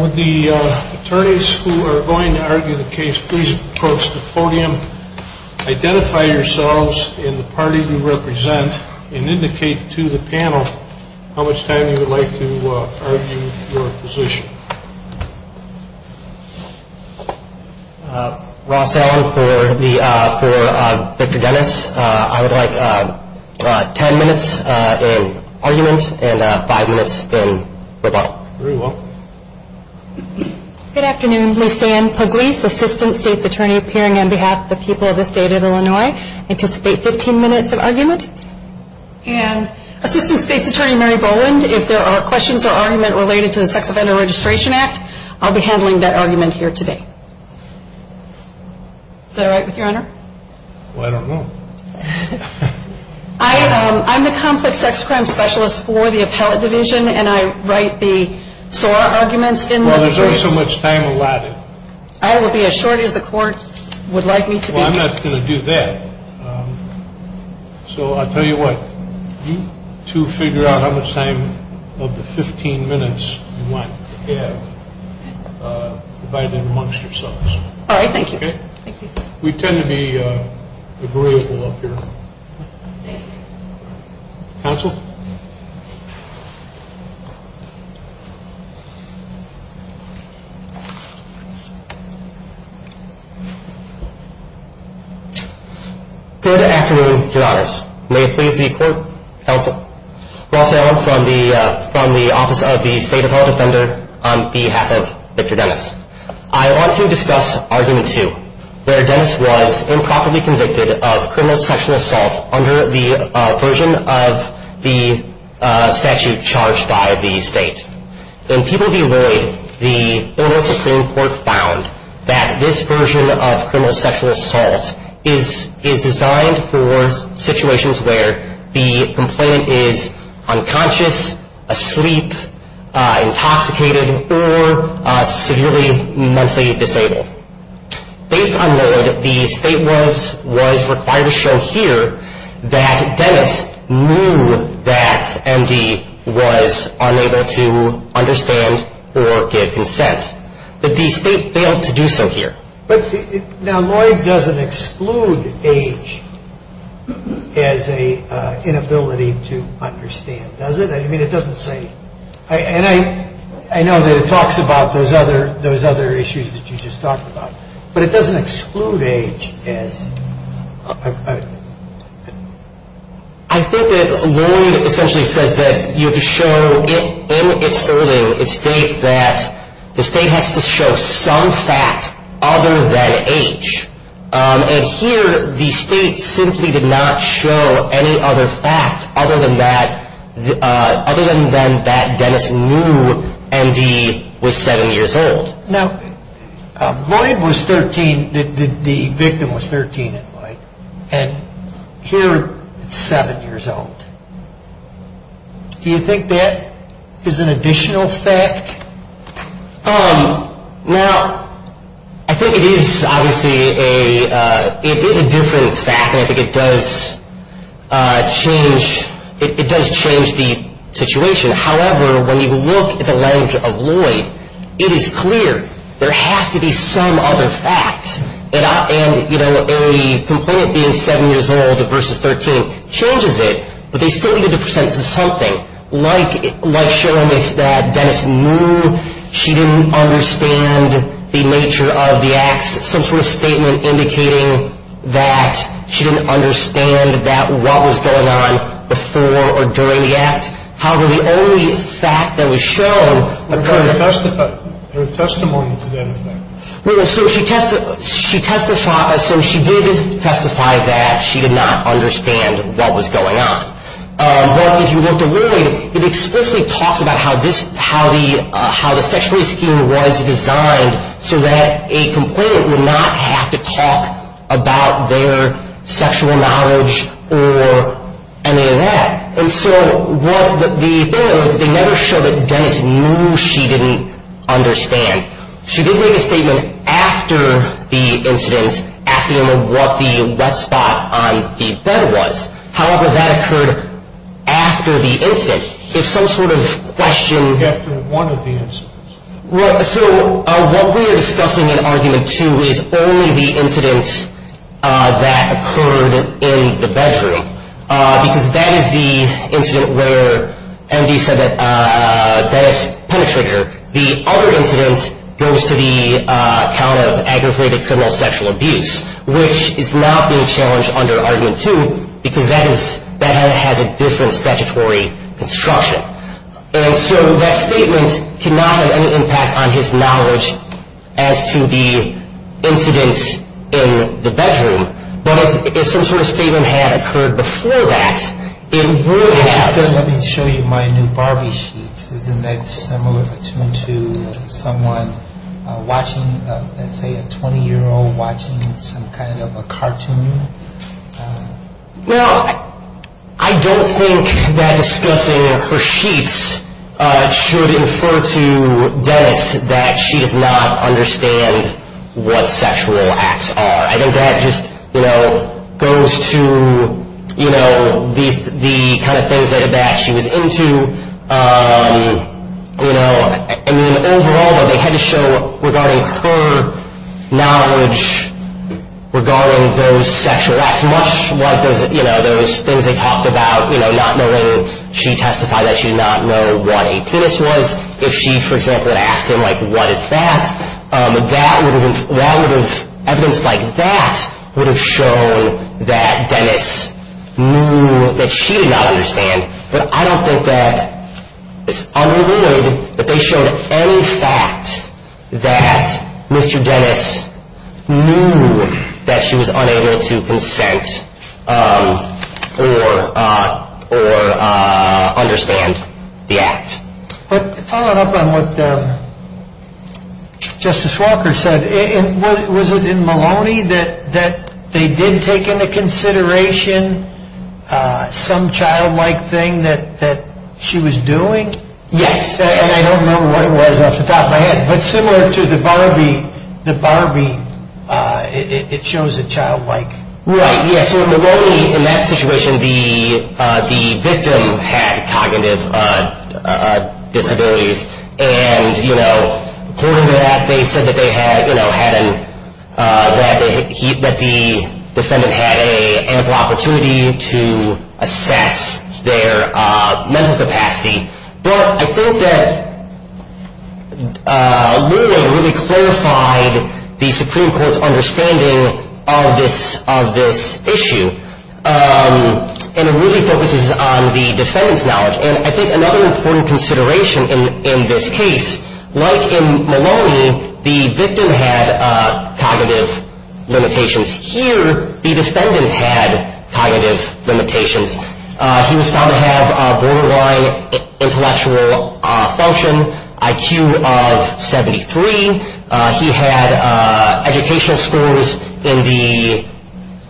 Would the attorneys who are going to argue the case please approach the podium, identify yourselves and the party you represent, and indicate to the panel how much time you would like to argue your position. Ross Allen for Victor Denis, I would like 10 minutes in argument and 5 minutes in rebuttal. Good afternoon, Lisanne Pugliese, Assistant State's Attorney appearing on behalf of the people of the state of Illinois. I anticipate 15 minutes of argument. And Assistant State's Attorney Mary Boland, if there are questions or argument related to the Sex Offender Registration Act, I'll be handling that argument here today. Is that all right with your Honor? Well, I don't know. I'm the Conflict Sex Crime Specialist for the Appellate Division and I write the SOAR arguments in the case. Well, there's only so much time allotted. I will be as short as the Court would like me to be. Well, I'm not going to do that. So I'll tell you what, you two figure out how much time of the 15 minutes you want to have divided amongst yourselves. All right. Thank you. Okay? We tend to be agreeable up here. Thank you. Counsel? Good afternoon, Your Honors. May it please the Court, counsel, Ross Allen from the Appellate Division, from the Office of the State Appellate Defender, on behalf of Victor Dennis. I want to discuss Argument 2, where Dennis was improperly convicted of criminal sexual assault under the version of the statute charged by the State. In People v. Lloyd, the Federal Supreme Court found that this version of criminal sexual assault was a crime of the state, and that Dennis was either unconscious, asleep, intoxicated, or severely mentally disabled. Based on Lloyd, the State was required to show here that Dennis knew that MD was unable to understand or give consent, but the State failed to do so here. Now, Lloyd doesn't exclude age as an inability to understand, does it? I mean, it doesn't say. And I know that it talks about those other issues that you just talked about. But it doesn't exclude age as... I think that Lloyd essentially says that you have to show in its wording, it states that the State has to show some fact other than age. And here, the State simply did not show any other fact other than that Dennis knew MD was 7 years old. Now, Lloyd was 13, the victim was 13, and here it's 7 years old. Do you think that is an additional fact? Now, I think it is obviously a different fact, and I think it does change the situation. However, when you look at the language of Lloyd, it is clear there has to be some other fact. And, you know, the complaint being 7 years old versus 13 changes it, but they still needed to present something. Like showing that Dennis knew she didn't understand the nature of the acts, some sort of statement indicating that she didn't understand what was going on before or during the act. However, the only fact that was shown occurred... There were testimonies of anything. Well, so she did testify that she did not understand what was going on. But, if you look at Lloyd, it explicitly talks about how the sexuality scheme was designed so that a complainant would not have to talk about their sexual knowledge or any of that. And so, the thing is, they never showed that Dennis knew she didn't understand. She did make a statement after the incident asking him what the wet spot on the bed was. However, that occurred after the incident. If some sort of question... After one of the incidents. Well, so what we are discussing in Argument 2 is only the incidents that occurred in the bedroom, because that is the incident where MD said that Dennis penetrated her. The other incident goes to the account of aggravated criminal sexual abuse, which is now being challenged under Argument 2 because that has a different statutory construction. And so, that statement cannot have any impact on his knowledge as to the incidents in the bedroom. But, if some sort of statement had occurred before that, it would have... Let me show you my new Barbie sheets. Isn't that similar to someone watching, let's say a 20-year-old watching some kind of a cartoon? Well, I don't think that discussing her sheets should infer to Dennis that she does not understand what sexual acts are. I think that just goes to the kind of things that she was into. Overall, they had to show regarding her knowledge regarding those sexual acts, much like those things they talked about, not knowing... She testified that she did not know what a penis was. If she, for example, had asked him, like, what is that? That would have... Evidence like that would have shown that Dennis knew that she did not understand. But, I don't think that it's unrewarded that they showed any fact that Mr. Dennis knew that she was unable to consent or understand the act. But, following up on what Justice Walker said, was it in Maloney that they did take into consideration some childlike thing that she was doing? Yes, and I don't know what it was off the top of my head. But, similar to the Barbie, the Barbie, it shows a childlike... Right, yes, so in Maloney, in that situation, the victim had cognitive disabilities. And, you know, according to that, they said that the defendant had an ample opportunity to assess their mental capacity. But, I think that Maloney really clarified the Supreme Court's understanding of this issue. And, it really focuses on the defendant's knowledge. And, I think another important consideration in this case, like in Maloney, the victim had cognitive limitations. Here, the defendant had cognitive limitations. He was found to have a borderline intellectual function, IQ of 73. He had educational scores in the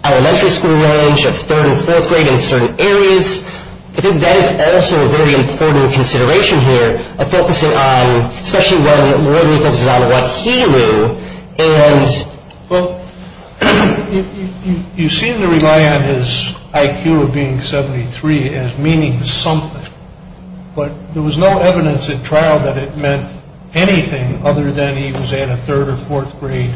elementary school range of third and fourth grade in certain areas. I think that is also a very important consideration here, focusing on, especially when Maloney focuses on what he knew. Well, you seem to rely on his IQ of being 73 as meaning something. But, there was no evidence at trial that it meant anything other than he was at a third or fourth grade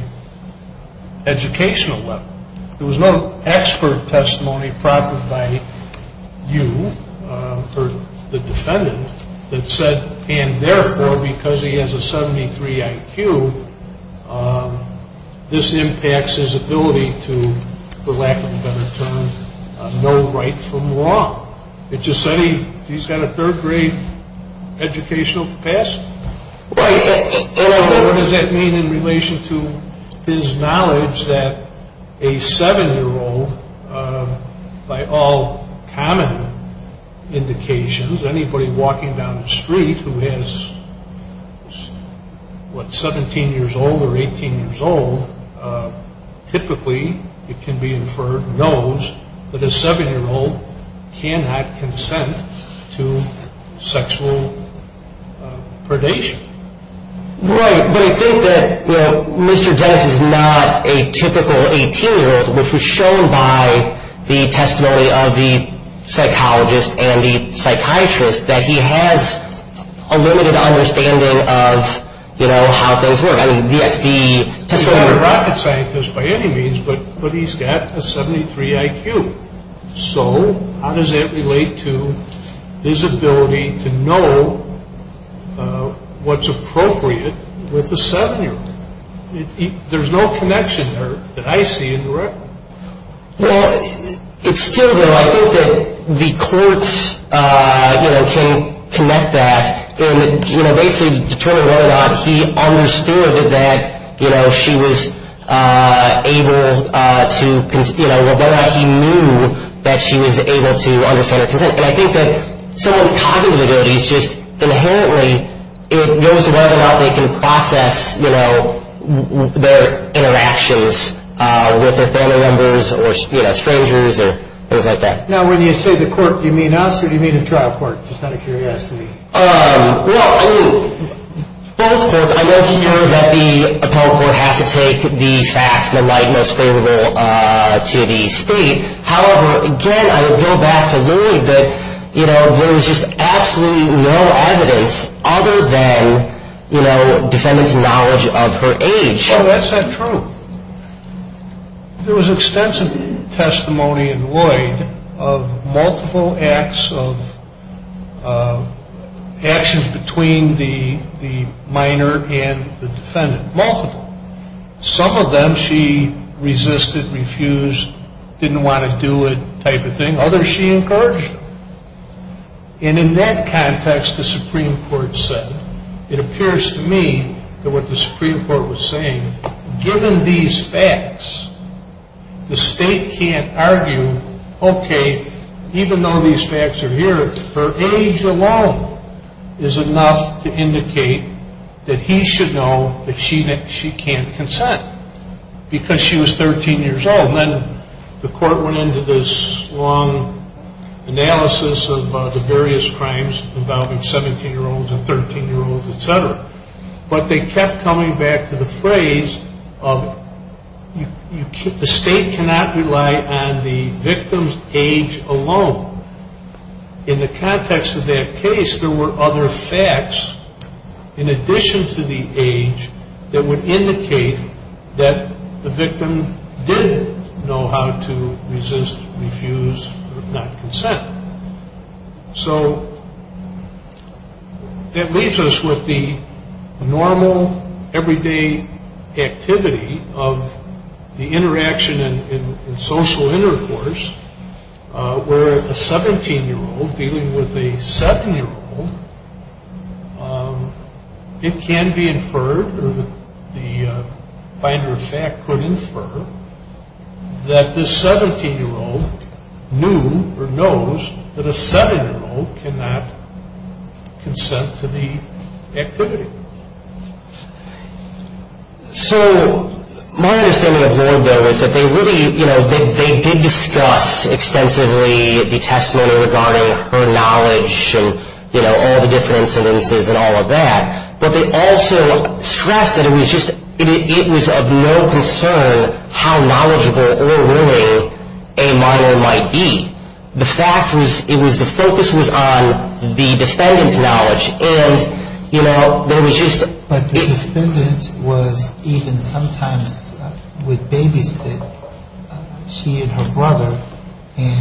educational level. There was no expert testimony proffered by you, or the defendant, that said, And, therefore, because he has a 73 IQ, this impacts his ability to, for lack of a better term, know right from wrong. It just said he's got a third grade educational capacity. What does that mean in relation to his knowledge that a 7-year-old, by all common indications, anybody walking down the street who is, what, 17 years old or 18 years old, typically, it can be inferred, knows that a 7-year-old cannot consent to sexual predation? Right, but I think that Mr. Dennis is not a typical 18-year-old, which was shown by the testimony of the psychologist and the psychiatrist, that he has a limited understanding of how things work. He's not a rocket scientist by any means, but he's got a 73 IQ. So, how does that relate to his ability to know what's appropriate with a 7-year-old? There's no connection there that I see in the record. Well, it's still there. I think that the court can connect that. Basically, to determine whether or not he understood that she was able to, whether or not he knew that she was able to understand her consent. I think that someone's cognitive abilities just inherently, it goes to whether or not they can process their interactions with their family members or strangers or things like that. Now, when you say the court, do you mean us or do you mean a trial court? Just out of curiosity. Well, I mean, both. I know here that the appellate court has to take the facts in the light most favorable to the state. However, again, I would go back to Louie that there is just absolutely no evidence other than defendant's knowledge of her age. That's not true. There was extensive testimony in Lloyd of multiple acts of actions between the minor and the defendant, multiple. Some of them she resisted, refused, didn't want to do it type of thing. Others she encouraged. And in that context, the Supreme Court said, it appears to me that what the Supreme Court was saying, given these facts, the state can't argue, okay, even though these facts are here, her age alone is enough to indicate that he should know that she can't consent because she was 13 years old. And then the court went into this long analysis of the various crimes involving 17-year-olds and 13-year-olds, et cetera. But they kept coming back to the phrase of the state cannot rely on the victim's age alone. In the context of that case, there were other facts, in addition to the age, that would indicate that the victim did know how to resist, refuse, not consent. So that leaves us with the normal, everyday activity of the interaction in social intercourse where a 17-year-old dealing with a 7-year-old, it can be inferred or the finer fact could infer that this 17-year-old knew or knows that a 7-year-old cannot consent to the activity. So my understanding of Ward, though, is that they really, you know, they did discuss extensively the testimony regarding her knowledge and, you know, all the different incidences and all of that. But they also stressed that it was of no concern how knowledgeable or willing a minor might be. The fact was it was the focus was on the defendant's knowledge. But the defendant was even sometimes with babysitting. She and her brother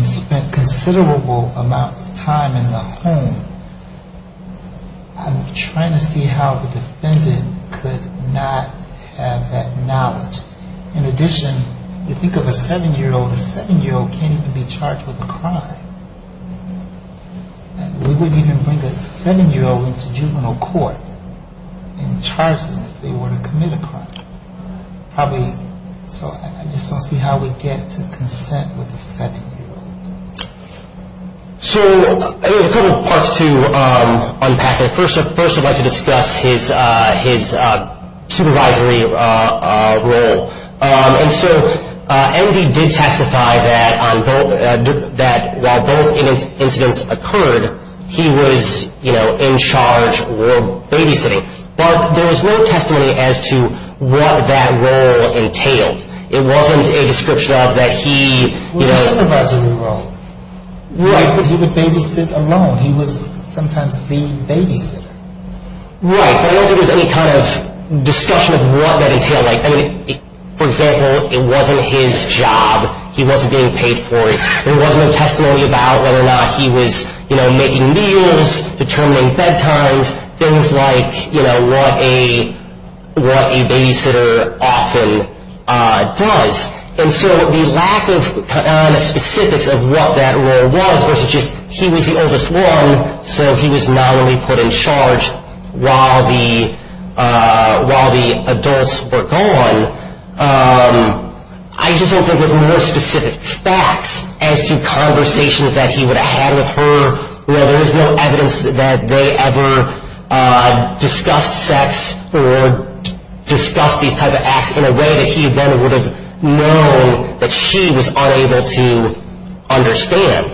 spent considerable amount of time in the home. I'm trying to see how the defendant could not have that knowledge. In addition, you think of a 7-year-old. A 7-year-old can't even be charged with a crime. We wouldn't even bring a 7-year-old into juvenile court and charge them if they were to commit a crime. Probably, so I just want to see how we get to consent with a 7-year-old. So there's a couple parts to unpack it. First, I'd like to discuss his supervisory role. And so Envy did testify that while both incidents occurred, he was, you know, in charge or babysitting. But there was no testimony as to what that role entailed. It wasn't a description of that he, you know. He was a supervisory role. Right. But he would babysit alone. He was sometimes the babysitter. Right. But I don't think there was any kind of discussion of what that entailed. I mean, for example, it wasn't his job. He wasn't being paid for it. There wasn't a testimony about whether or not he was, you know, making meals, determining bedtimes, things like, you know, what a babysitter often does. And so the lack of specifics of what that role was versus just he was the oldest one, so he was not only put in charge while the adults were gone, I just don't think there were any more specific facts as to conversations that he would have had with her You know, there was no evidence that they ever discussed sex or discussed these type of acts in a way that he then would have known that she was unable to understand.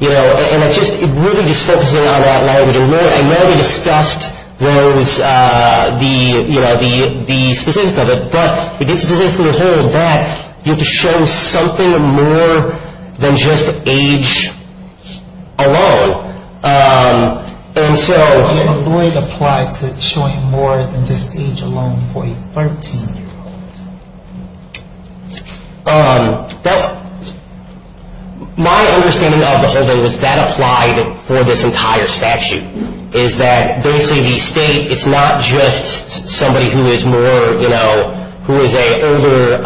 You know, and it's just really just focusing on that language. I know they discussed those, you know, the specifics of it, but the specifics of the whole of that, you have to show something more than just age alone. And so... Why did the void apply to showing more than just age alone for a 13-year-old? Well, my understanding of the holding was that applied for this entire statute, is that basically the state, it's not just somebody who is more, you know, who is an older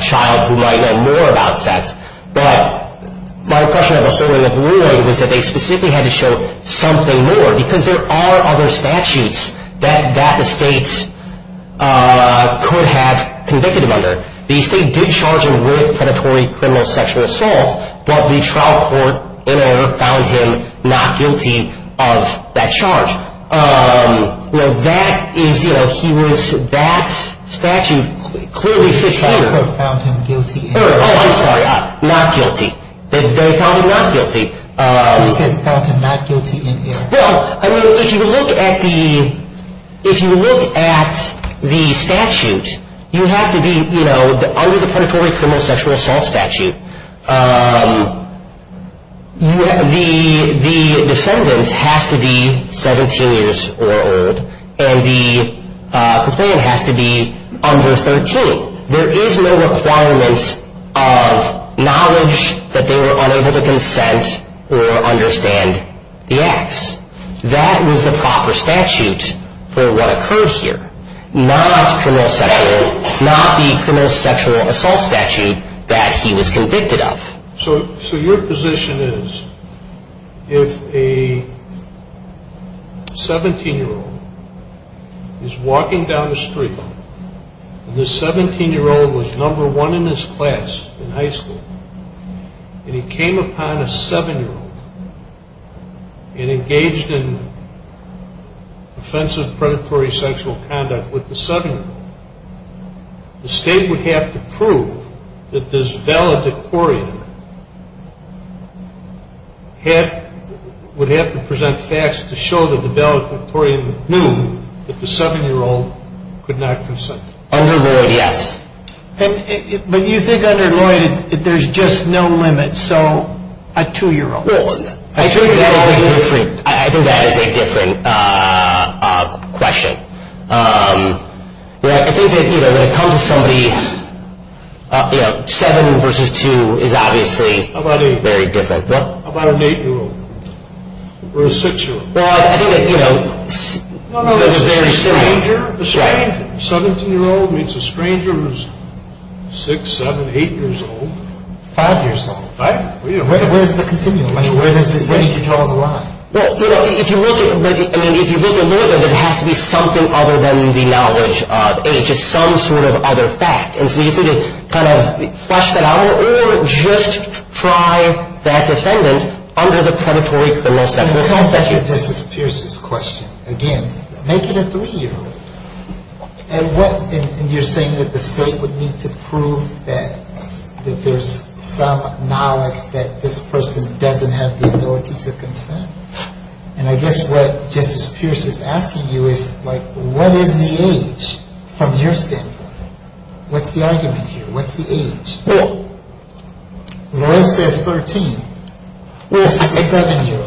child who might know more about sex, but my impression of the holding of the ruling was that they specifically had to show something more, because there are other statutes that the state could have convicted him under. The state did charge him with predatory criminal sexual assault, but the trial court in error found him not guilty of that charge. You know, that is, you know, he was, that statute clearly fits here. The trial court found him guilty in error. Oh, I'm sorry, not guilty. They found him not guilty. You said found him not guilty in error. Well, I mean, if you look at the, if you look at the statute, you have to be, you know, under the predatory criminal sexual assault statute, the defendant has to be 17 years or older, and the complainant has to be under 13. There is no requirement of knowledge that they were unable to consent or understand the acts. That was the proper statute for what occurred here. Not criminal sexual, not the criminal sexual assault statute that he was convicted of. So your position is if a 17-year-old is walking down the street, and this 17-year-old was number one in his class in high school, and he came upon a 7-year-old and engaged in offensive predatory sexual conduct with the 7-year-old, the state would have to prove that this valedictorian would have to present facts to show that the valedictorian knew that the 7-year-old could not consent. Under Lloyd, yes. But you think under Lloyd, there's just no limit, so a 2-year-old. I think that is a different question. I think that when it comes to somebody, you know, 7 versus 2 is obviously very different. How about an 8-year-old or a 6-year-old? Well, I think that, you know, there's a very similar. No, no, it's a stranger. A 17-year-old means a stranger who's 6, 7, 8 years old. 5 years old. 5? Where's the continuum? Where do you draw the line? Well, you know, if you look at Lloyd, there has to be something other than the knowledge, and it's just some sort of other fact, and so you just need to kind of flush that out or just try that defendant under the predatory criminal section. It just disappears, this question. Again, make it a 3-year-old. And you're saying that the State would need to prove that there's some knowledge that this person doesn't have the ability to consent? And I guess what Justice Pierce is asking you is, like, what is the age from your standpoint? What's the argument here? What's the age? Well. Lloyd says 13. Well,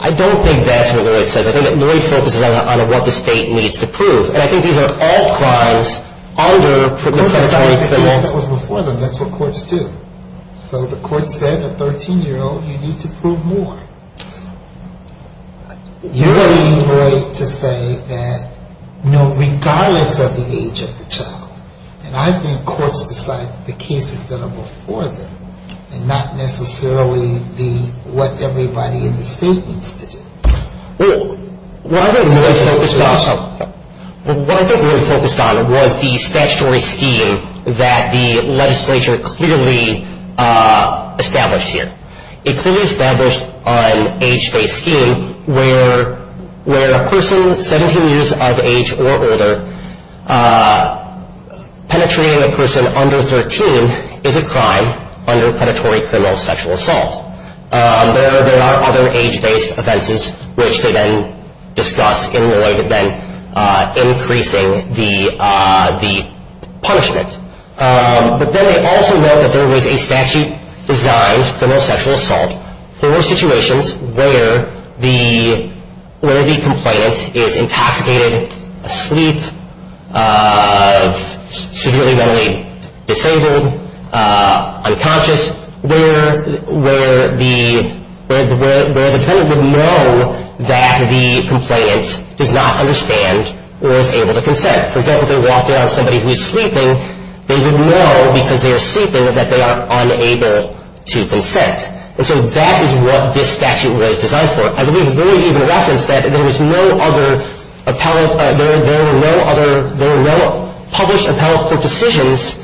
I don't think that's what Lloyd says. I think that Lloyd focuses on what the State needs to prove, and I think these are all crimes under the predatory criminal. Well, the court decided the case that was before them. That's what courts do. So the court said, a 13-year-old, you need to prove more. You're leading Lloyd to say that, no, regardless of the age of the child, and I think courts decide the cases that are before them and not necessarily what everybody in the State needs to do. Well, what I think Lloyd focused on was the statutory scheme that the legislature clearly established here. It clearly established an age-based scheme where a person 17 years of age or older penetrating a person under 13 is a crime under predatory criminal sexual assault. There are other age-based offenses, which they then discuss in Lloyd, and then increasing the punishment. But then they also know that there was a statute designed for no sexual assault. There are situations where the complainant is intoxicated, asleep, severely mentally disabled, unconscious, where the defendant would know that the complainant does not understand or is able to consent. For example, if they walk in on somebody who is sleeping, they would know because they are sleeping that they are unable to consent. And so that is what this statute was designed for. I believe Lloyd even referenced that there was no other appellate, there were no published appellate court decisions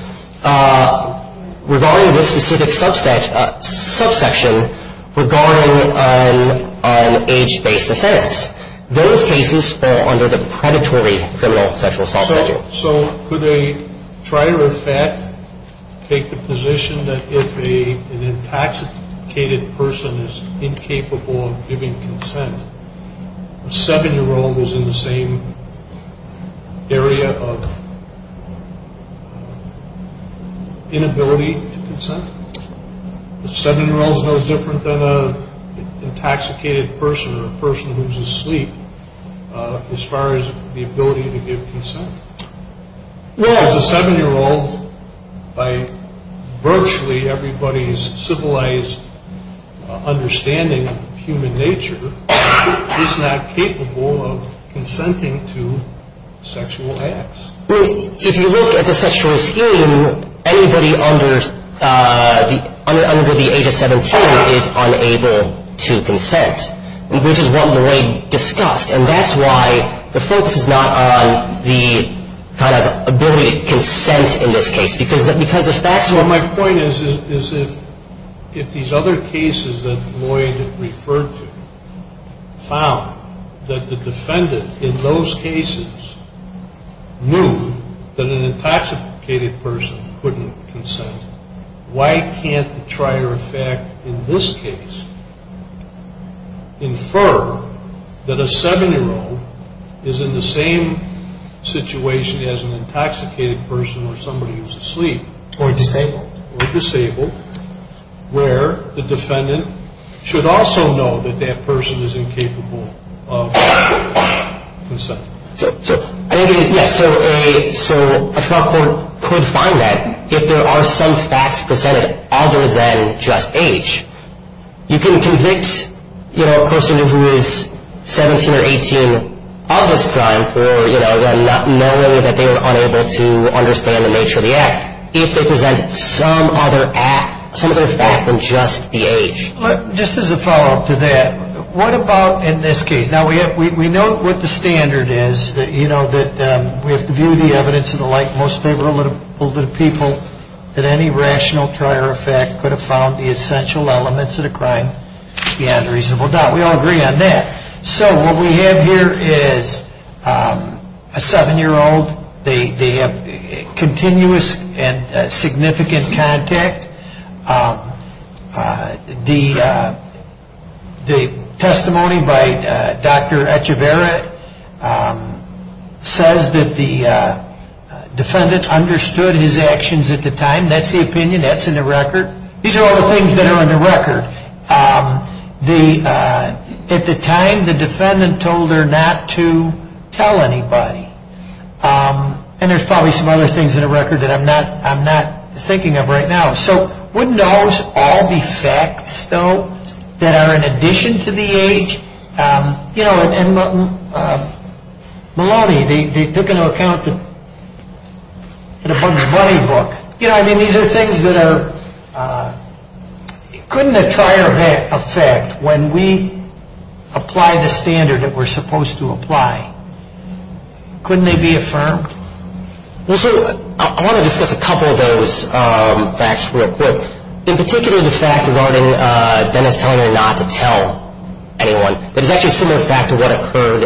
regarding this specific subsection regarding an age-based offense. Those cases fall under the predatory criminal sexual assault statute. So could a trier of fat take the position that if an intoxicated person is incapable of giving consent, a 7-year-old was in the same area of inability to consent? A 7-year-old is no different than an intoxicated person or a person who is asleep as far as the ability to give consent. A 7-year-old, by virtually everybody's civilized understanding of human nature, is not capable of consenting to sexual acts. If you look at the sexual assailant, anybody under the age of 17 is unable to consent, which is what Lloyd discussed. And that's why the focus is not on the kind of ability to consent in this case because if that's what my point is, is if these other cases that Lloyd referred to found that the defendant in those cases knew that an intoxicated person couldn't consent, why can't the trier of fact in this case infer that a 7-year-old is in the same situation as an intoxicated person or somebody who's asleep? Or disabled. Or disabled, where the defendant should also know that that person is incapable of consent. So a trial court could find that if there are some facts presented other than just age. You can convict a person who is 17 or 18 of this crime for knowing that they were unable to understand the nature of the act if they presented some other fact than just the age. Just as a follow-up to that, what about in this case? Now, we know what the standard is. We have to view the evidence in the light most favorable to the people that any rational trier of fact could have found the essential elements of the crime beyond a reasonable doubt. We all agree on that. So what we have here is a 7-year-old. They have continuous and significant contact. The testimony by Dr. Echevarria says that the defendant understood his actions at the time. That's the opinion. That's in the record. These are all the things that are in the record. At the time, the defendant told her not to tell anybody. And there's probably some other things in the record that I'm not thinking of right now. So wouldn't those all be facts, though, that are in addition to the age? You know, Maloney, they're going to account in a Bugs Bunny book. You know, I mean, these are things that are… Couldn't a trier of fact, when we apply the standard that we're supposed to apply, couldn't they be affirmed? Well, sir, I want to discuss a couple of those facts real quick. In particular, the fact regarding Dennis telling her not to tell anyone, that is actually a similar fact to what occurred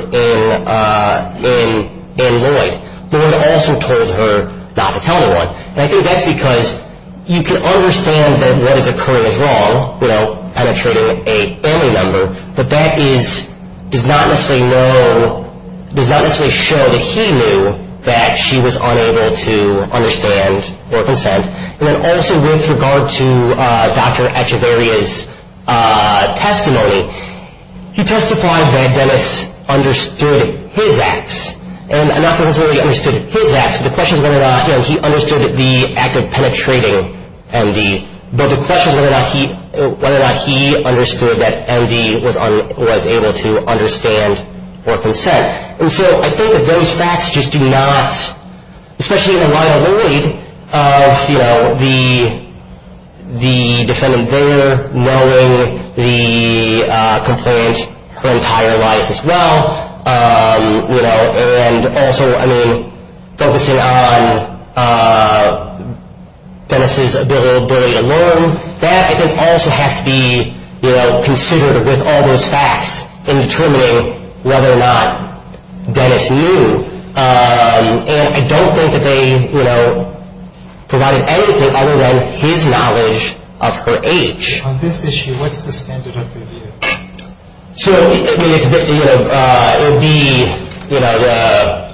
in Lloyd. Lloyd also told her not to tell anyone. And I think that's because you can understand that what is occurring is wrong, you know, penetrating a family member, but that does not necessarily show that he knew that she was unable to understand or consent. And then also with regard to Dr. Echevarria's testimony, he testified that Dennis understood his acts, and not necessarily understood his acts, but the question is whether or not he understood the act of penetrating MD, but the question is whether or not he understood that MD was able to understand or consent. And so I think that those facts just do not, especially in the line of Lloyd, you know, the defendant there knowing the complaint her entire life as well, you know, and also, I mean, focusing on Dennis' ability to learn, that I think also has to be, you know, considered with all those facts in determining whether or not Dennis knew. And I don't think that they, you know, provided anything other than his knowledge of her age. On this issue, what's the standard of review? So it would be, you know,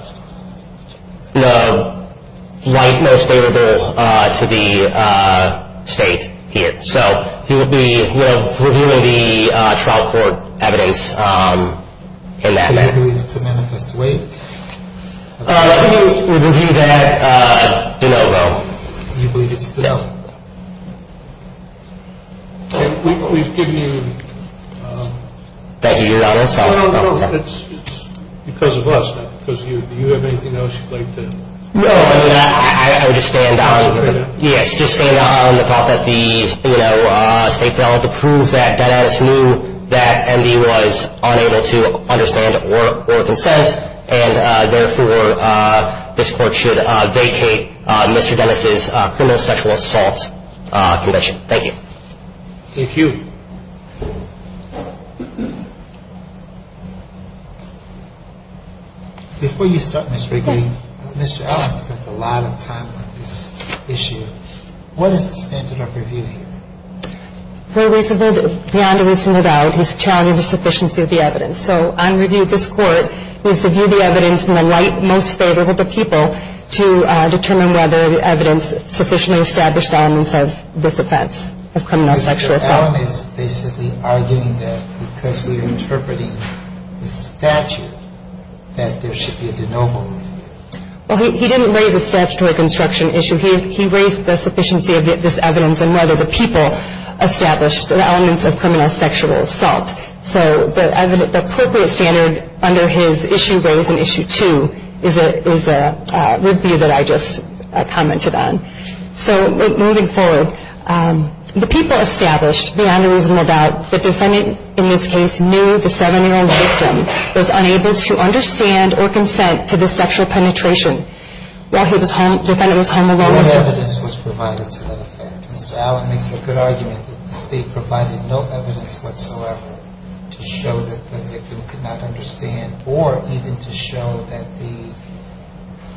the right most favorable to the state here. So he would be, you know, reviewing the trial court evidence in that manner. Do you believe it's a manifest waive? Let me review that. Do not vote. Do you believe it's a manifest waive? No. We've given you. Thank you, Your Honor. No, no, no, it's because of us, not because of you. Do you have anything else you'd like to? No, I mean, I would just stand on, yes, just stand on the thought that the, you know, state failed to prove that Dennis knew that MD was unable to understand or consent, and therefore this Court should vacate Mr. Dennis' criminal sexual assault conviction. Thank you. Thank you. Before you start, Ms. Rigby, Mr. Allen spent a lot of time on this issue. What is the standard of review here? For reason beyond a reasonable doubt, he's challenging the sufficiency of the evidence. So on review, this Court is to view the evidence in the light most favorable to people to determine whether the evidence sufficiently established elements of this offense, of criminal sexual assault. Mr. Allen is basically arguing that because we're interpreting the statute, that there should be a de novo review. Well, he didn't raise a statutory construction issue. He raised the sufficiency of this evidence and whether the people established the elements of criminal sexual assault. So the appropriate standard under his issue raised in issue two is a review that I just commented on. So moving forward, the people established, beyond a reasonable doubt, the defendant in this case knew the 7-year-old victim was unable to understand or consent to this sexual penetration while the defendant was home alone. No evidence was provided to that effect. Mr. Allen makes a good argument that the State provided no evidence whatsoever to show that the victim could not understand or even to show that the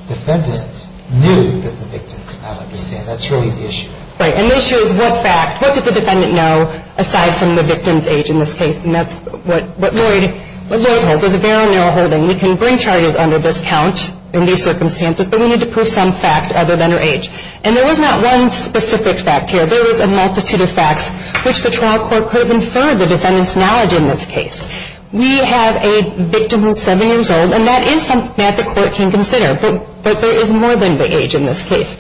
defendant knew that the victim could not understand. That's really the issue. Right. And the issue is what fact, what did the defendant know aside from the victim's age in this case? And that's what Lloyd holds. There's a very narrow holding. We can bring charges under this count in these circumstances, but we need to prove some fact other than her age. And there was not one specific fact here. There was a multitude of facts which the trial court could infer the defendant's knowledge in this case. We have a victim who's 7 years old, and that is something that the court can consider, but there is more than the age in this case.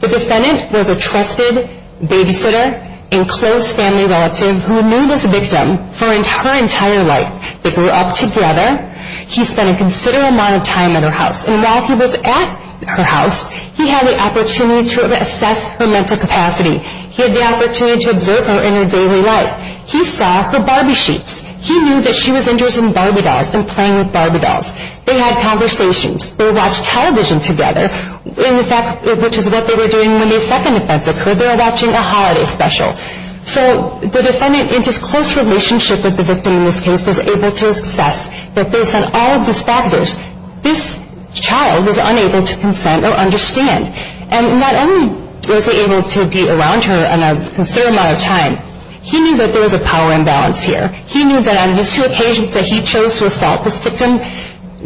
The defendant was a trusted babysitter and close family relative who knew this victim for her entire life. They grew up together. He spent a considerable amount of time at her house. And while he was at her house, he had the opportunity to assess her mental capacity. He had the opportunity to observe her in her daily life. He saw her Barbie sheets. He knew that she was interested in Barbie dolls and playing with Barbie dolls. They had conversations. They watched television together, which is what they were doing when the second offense occurred. They were watching a holiday special. So the defendant, in his close relationship with the victim in this case, was able to assess that based on all of these factors, this child was unable to consent or understand. And not only was he able to be around her a considerable amount of time, he knew that there was a power imbalance here. He knew that on his two occasions that he chose to assault this victim,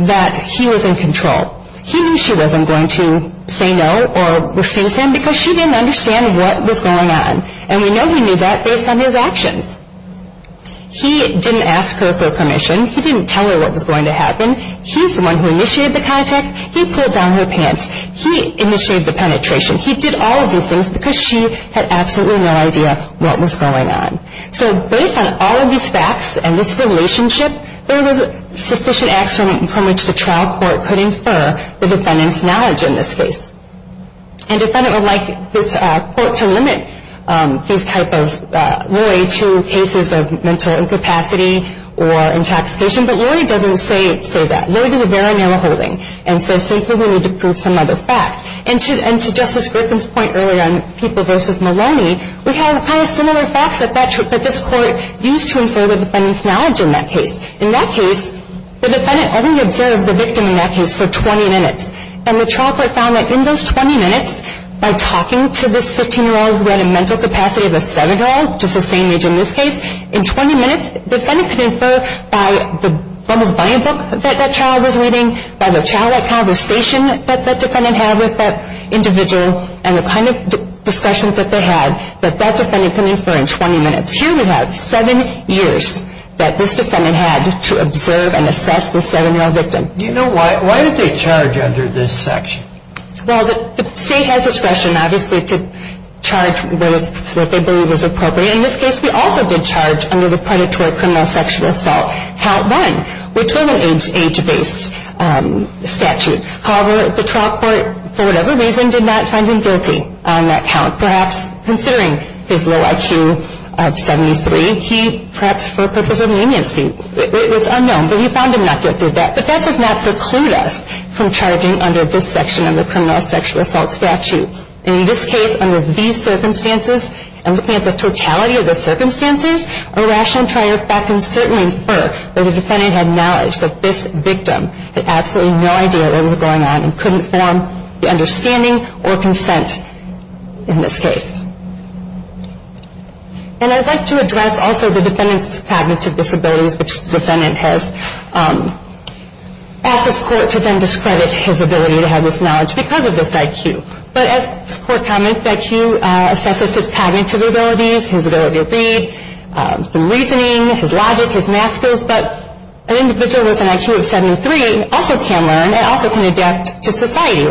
that he was in control. He knew she wasn't going to say no or refuse him because she didn't understand what was going on. And we know he knew that based on his actions. He didn't ask her for permission. He didn't tell her what was going to happen. He's the one who initiated the contact. He pulled down her pants. He initiated the penetration. He did all of these things because she had absolutely no idea what was going on. So based on all of these facts and this relationship, there was sufficient action from which the trial court could infer the defendant's knowledge in this case. And the defendant would like this court to limit this type of lawyer to cases of mental incapacity or intoxication. But Lori doesn't say that. Lori does a very narrow holding and says simply we need to prove some other fact. And to Justice Griffin's point earlier on people versus Maloney, we have kind of similar facts that this court used to infer the defendant's knowledge in that case. In that case, the defendant only observed the victim in that case for 20 minutes. And the trial court found that in those 20 minutes, by talking to this 15-year-old who had a mental capacity of a 7-year-old, just the same age in this case, in 20 minutes the defendant could infer by the Bubbles Buying Book that that child was reading, by the childlike conversation that that defendant had with that individual, and the kind of discussions that they had that that defendant could infer in 20 minutes. Here we have seven years that this defendant had to observe and assess the 7-year-old victim. Do you know why did they charge under this section? Well, the state has discretion obviously to charge those that they believe is appropriate. In this case, we also did charge under the Predatory Criminal Sexual Assault, Count 1, which was an age-based statute. However, the trial court, for whatever reason, did not find him guilty on that count, perhaps considering his low IQ of 73. He, perhaps for purposes of leniency, it was unknown, but we found him not guilty of that. But that does not preclude us from charging under this section of the Criminal Sexual Assault statute. In this case, under these circumstances, and looking at the totality of the circumstances, a rational trial court can certainly infer that the defendant had knowledge that this victim had absolutely no idea what was going on and couldn't form the understanding or consent in this case. And I'd like to address also the defendant's cognitive disabilities, which the defendant has asked this court to then discredit his ability to have this knowledge because of this IQ. But as the court commented, IQ assesses his cognitive abilities, his ability to read, some reasoning, his logic, his math skills, but an individual with an IQ of 73 also can learn and also can adapt to society.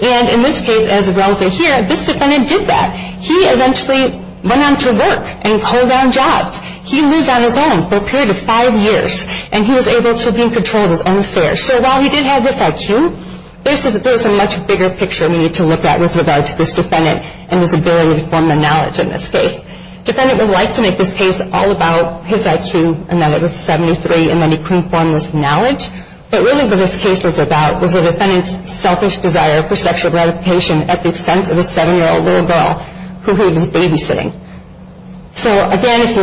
And in this case, as is relevant here, this defendant did that. He eventually went on to work and call down jobs. He lived on his own for a period of five years, and he was able to be in control of his own affairs. So while he did have this IQ, there's a much bigger picture we need to look at with regard to this defendant and his ability to form the knowledge in this case. The defendant would like to make this case all about his IQ and that it was 73 and that he couldn't form this knowledge, but really what this case was about was the defendant's selfish desire for sexual gratification at the expense of a 7-year-old little girl who he was babysitting. So again, if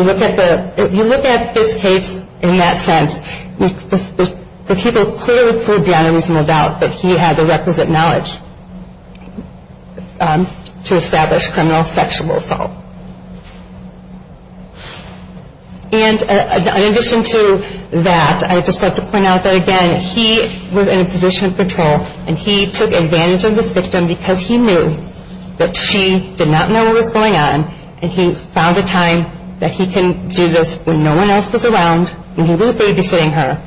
you look at this case in that sense, the people clearly proved beyond a reasonable doubt that he had the requisite knowledge to establish criminal sexual assault. And in addition to that, I would just like to point out that, again, he was in a position of control, and he took advantage of this victim because he knew that she did not know what was going on, and he found a time that he can do this when no one else was around, and he was babysitting her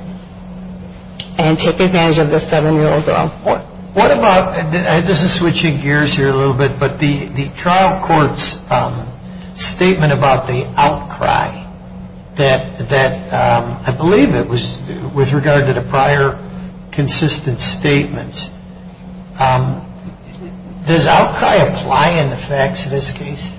and took advantage of this 7-year-old girl. What about, this is switching gears here a little bit, but the trial court's statement about the outcry, that I believe it was with regard to the prior consistent statements, does outcry apply in the facts of this case?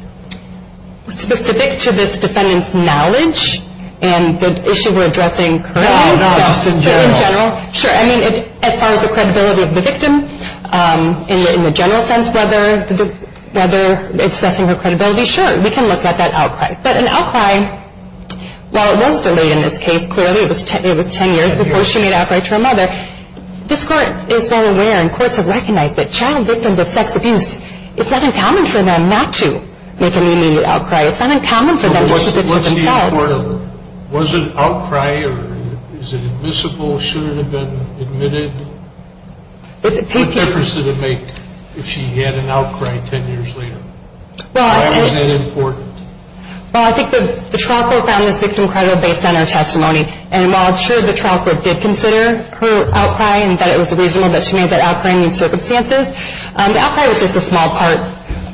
It's specific to this defendant's knowledge and the issue we're addressing currently. No, no, just in general. Just in general, sure. I mean, as far as the credibility of the victim in the general sense, whether it's assessing her credibility, sure. We can look at that outcry. But an outcry, while it was delayed in this case, clearly it was 10 years before she made an outcry to her mother, this Court is well aware and courts have recognized that child victims of sex abuse, it's not uncommon for them not to make an immediate outcry. It's not uncommon for them to submit to themselves. Was it an outcry or is it admissible? Should it have been admitted? What difference did it make if she had an outcry 10 years later? Why was it important? Well, I think the trial court found this victim credible based on her testimony. And while it's true the trial court did consider her outcry and that it was reasonable that she made that outcry in these circumstances, the outcry was just a small part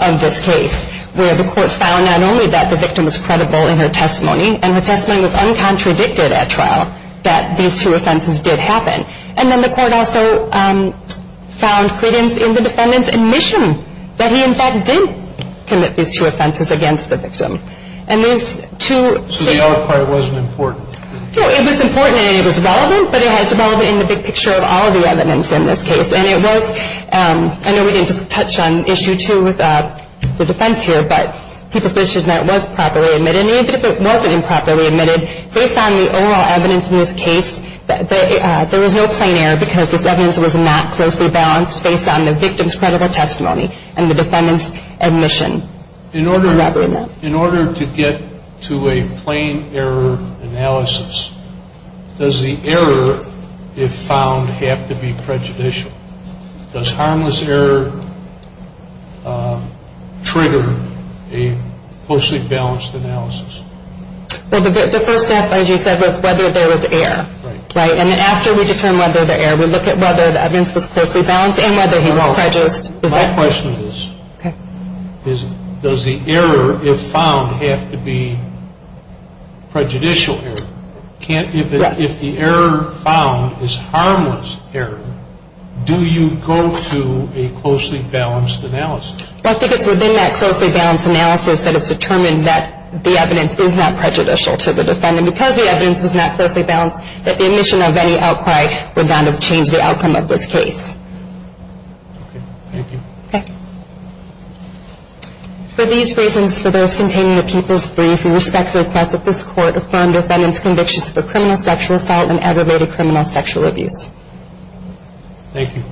of this case, where the court found not only that the victim was credible in her testimony and her testimony was uncontradicted at trial, that these two offenses did happen. And then the court also found credence in the defendant's admission that he in fact did commit these two offenses against the victim. And these two statements... So the outcry wasn't important? No, it was important and it was relevant, but it was relevant in the big picture of all of the evidence in this case. And it was, I know we didn't just touch on issue two with the defense here, but the position that it was properly admitted. And even if it wasn't improperly admitted, based on the overall evidence in this case, there was no plain error because this evidence was not closely balanced based on the victim's credible testimony and the defendant's admission. In order to get to a plain error analysis, does the error, if found, have to be prejudicial? Does harmless error trigger a closely balanced analysis? The first step, as you said, was whether there was error. And after we determine whether there was error, we look at whether the evidence was closely balanced and whether he was prejudiced. My question is, does the error, if found, have to be prejudicial error? If the error found is harmless error, do you go to a closely balanced analysis? I think it's within that closely balanced analysis that it's determined that the evidence is not prejudicial to the defendant. Because the evidence was not closely balanced, that the admission of any outcry would not have changed the outcome of this case. Okay. Thank you. Okay. For these reasons, for those containing the People's Brief, we respect the request that this Court affirm defendant's convictions for criminal sexual assault and aggravated criminal sexual abuse. Thank you.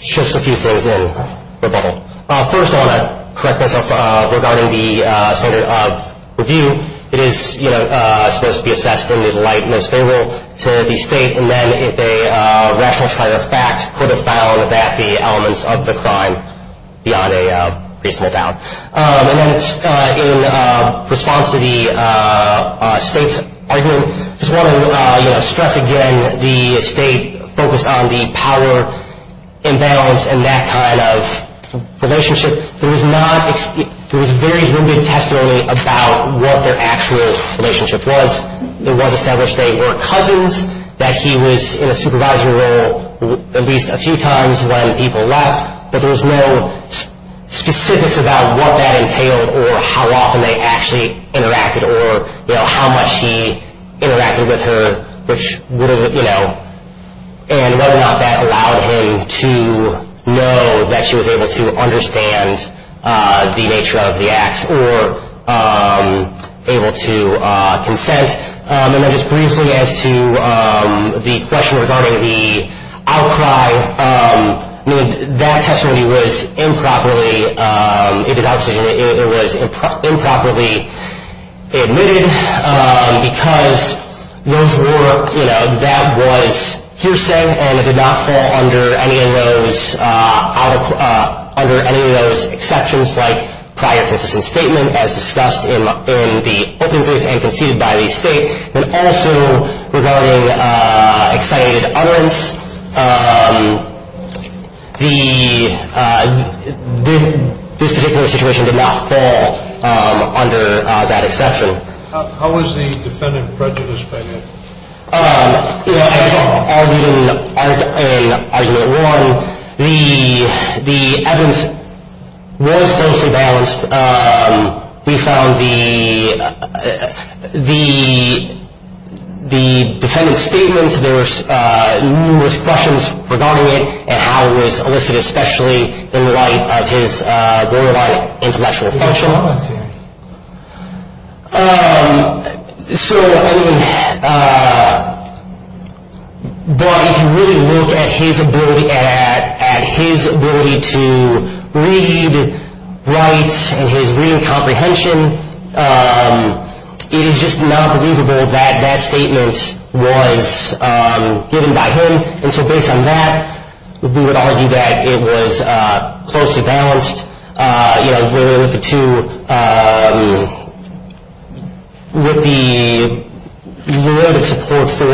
Just a few things in rebuttal. First, I want to correct myself regarding the standard of review. It is supposed to be assessed in the light most favorable to the State, and then if a rational trial of fact could have found that the elements of the crime beyond a reasonable doubt. In response to the State's argument, I just want to stress again, the State focused on the power imbalance and that kind of relationship. There was very limited testimony about what their actual relationship was. It was established they were cousins, that he was in a supervisory role at least a few times when people left, but there was no specifics about what that entailed or how often they actually interacted or how much he interacted with her and whether or not that allowed him to know that she was able to understand the nature of the acts or able to consent. And then just briefly as to the question regarding the outcry, that testimony was improperly admitted because that was hearsay and it did not fall under any of those exceptions like prior consistent statement as discussed in the opening brief and conceded by the State. And also regarding excited utterance, this particular situation did not fall under that exception. How was the defendant prejudiced by that? You know, as I'll read in argument one, the evidence was closely balanced. We found the defendant's statement, there were numerous questions regarding it and how it was elicited especially in light of his borderline intellectual function. So I mean, but if you really look at his ability to read, write and his reading comprehension, it is just not believable that that statement was given by him. And so based on that, we would argue that it was closely balanced. You know, we're looking to what the word of support for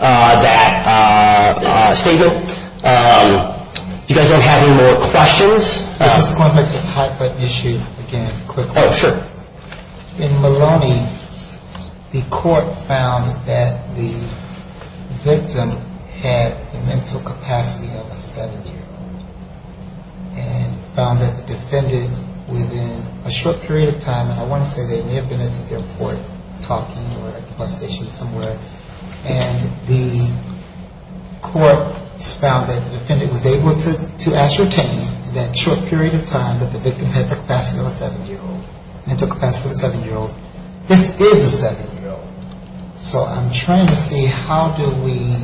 that statement. If you guys don't have any more questions. I'm just going back to the hot button issue again quickly. Oh, sure. In Maloney, the court found that the victim had the mental capacity of a seven-year-old and found that the defendant within a short period of time, and I want to say they may have been at the airport talking or at the bus station somewhere, and the court found that the defendant was able to ascertain in that short period of time that the victim had the capacity of a seven-year-old, mental capacity of a seven-year-old. This is a seven-year-old. So I'm trying to see how do we,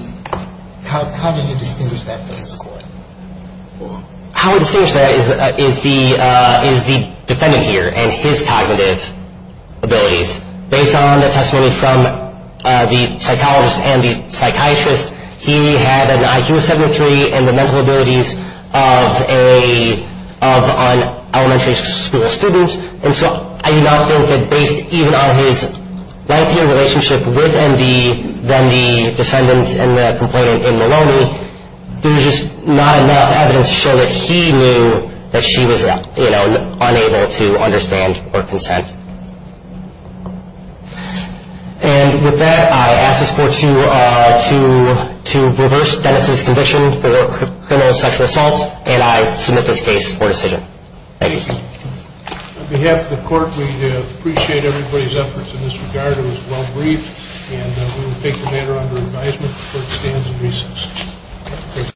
how do you distinguish that from the court? How we distinguish that is the defendant here and his cognitive abilities. Based on the testimony from the psychologist and the psychiatrist, he had an IQ of 73 and the mental abilities of an elementary school student. And so I do not think that based even on his lengthier relationship with MD than the defendant and the complainant in Maloney, there's just not enough evidence to show that he knew that she was, you know, unable to understand or consent. And with that, I ask this court to reverse Dennis' conviction for criminal sexual assault, and I submit this case for decision. Thank you. On behalf of the court, we appreciate everybody's efforts in this regard. It was well briefed, and we will take the matter under advisement. The court stands in recess.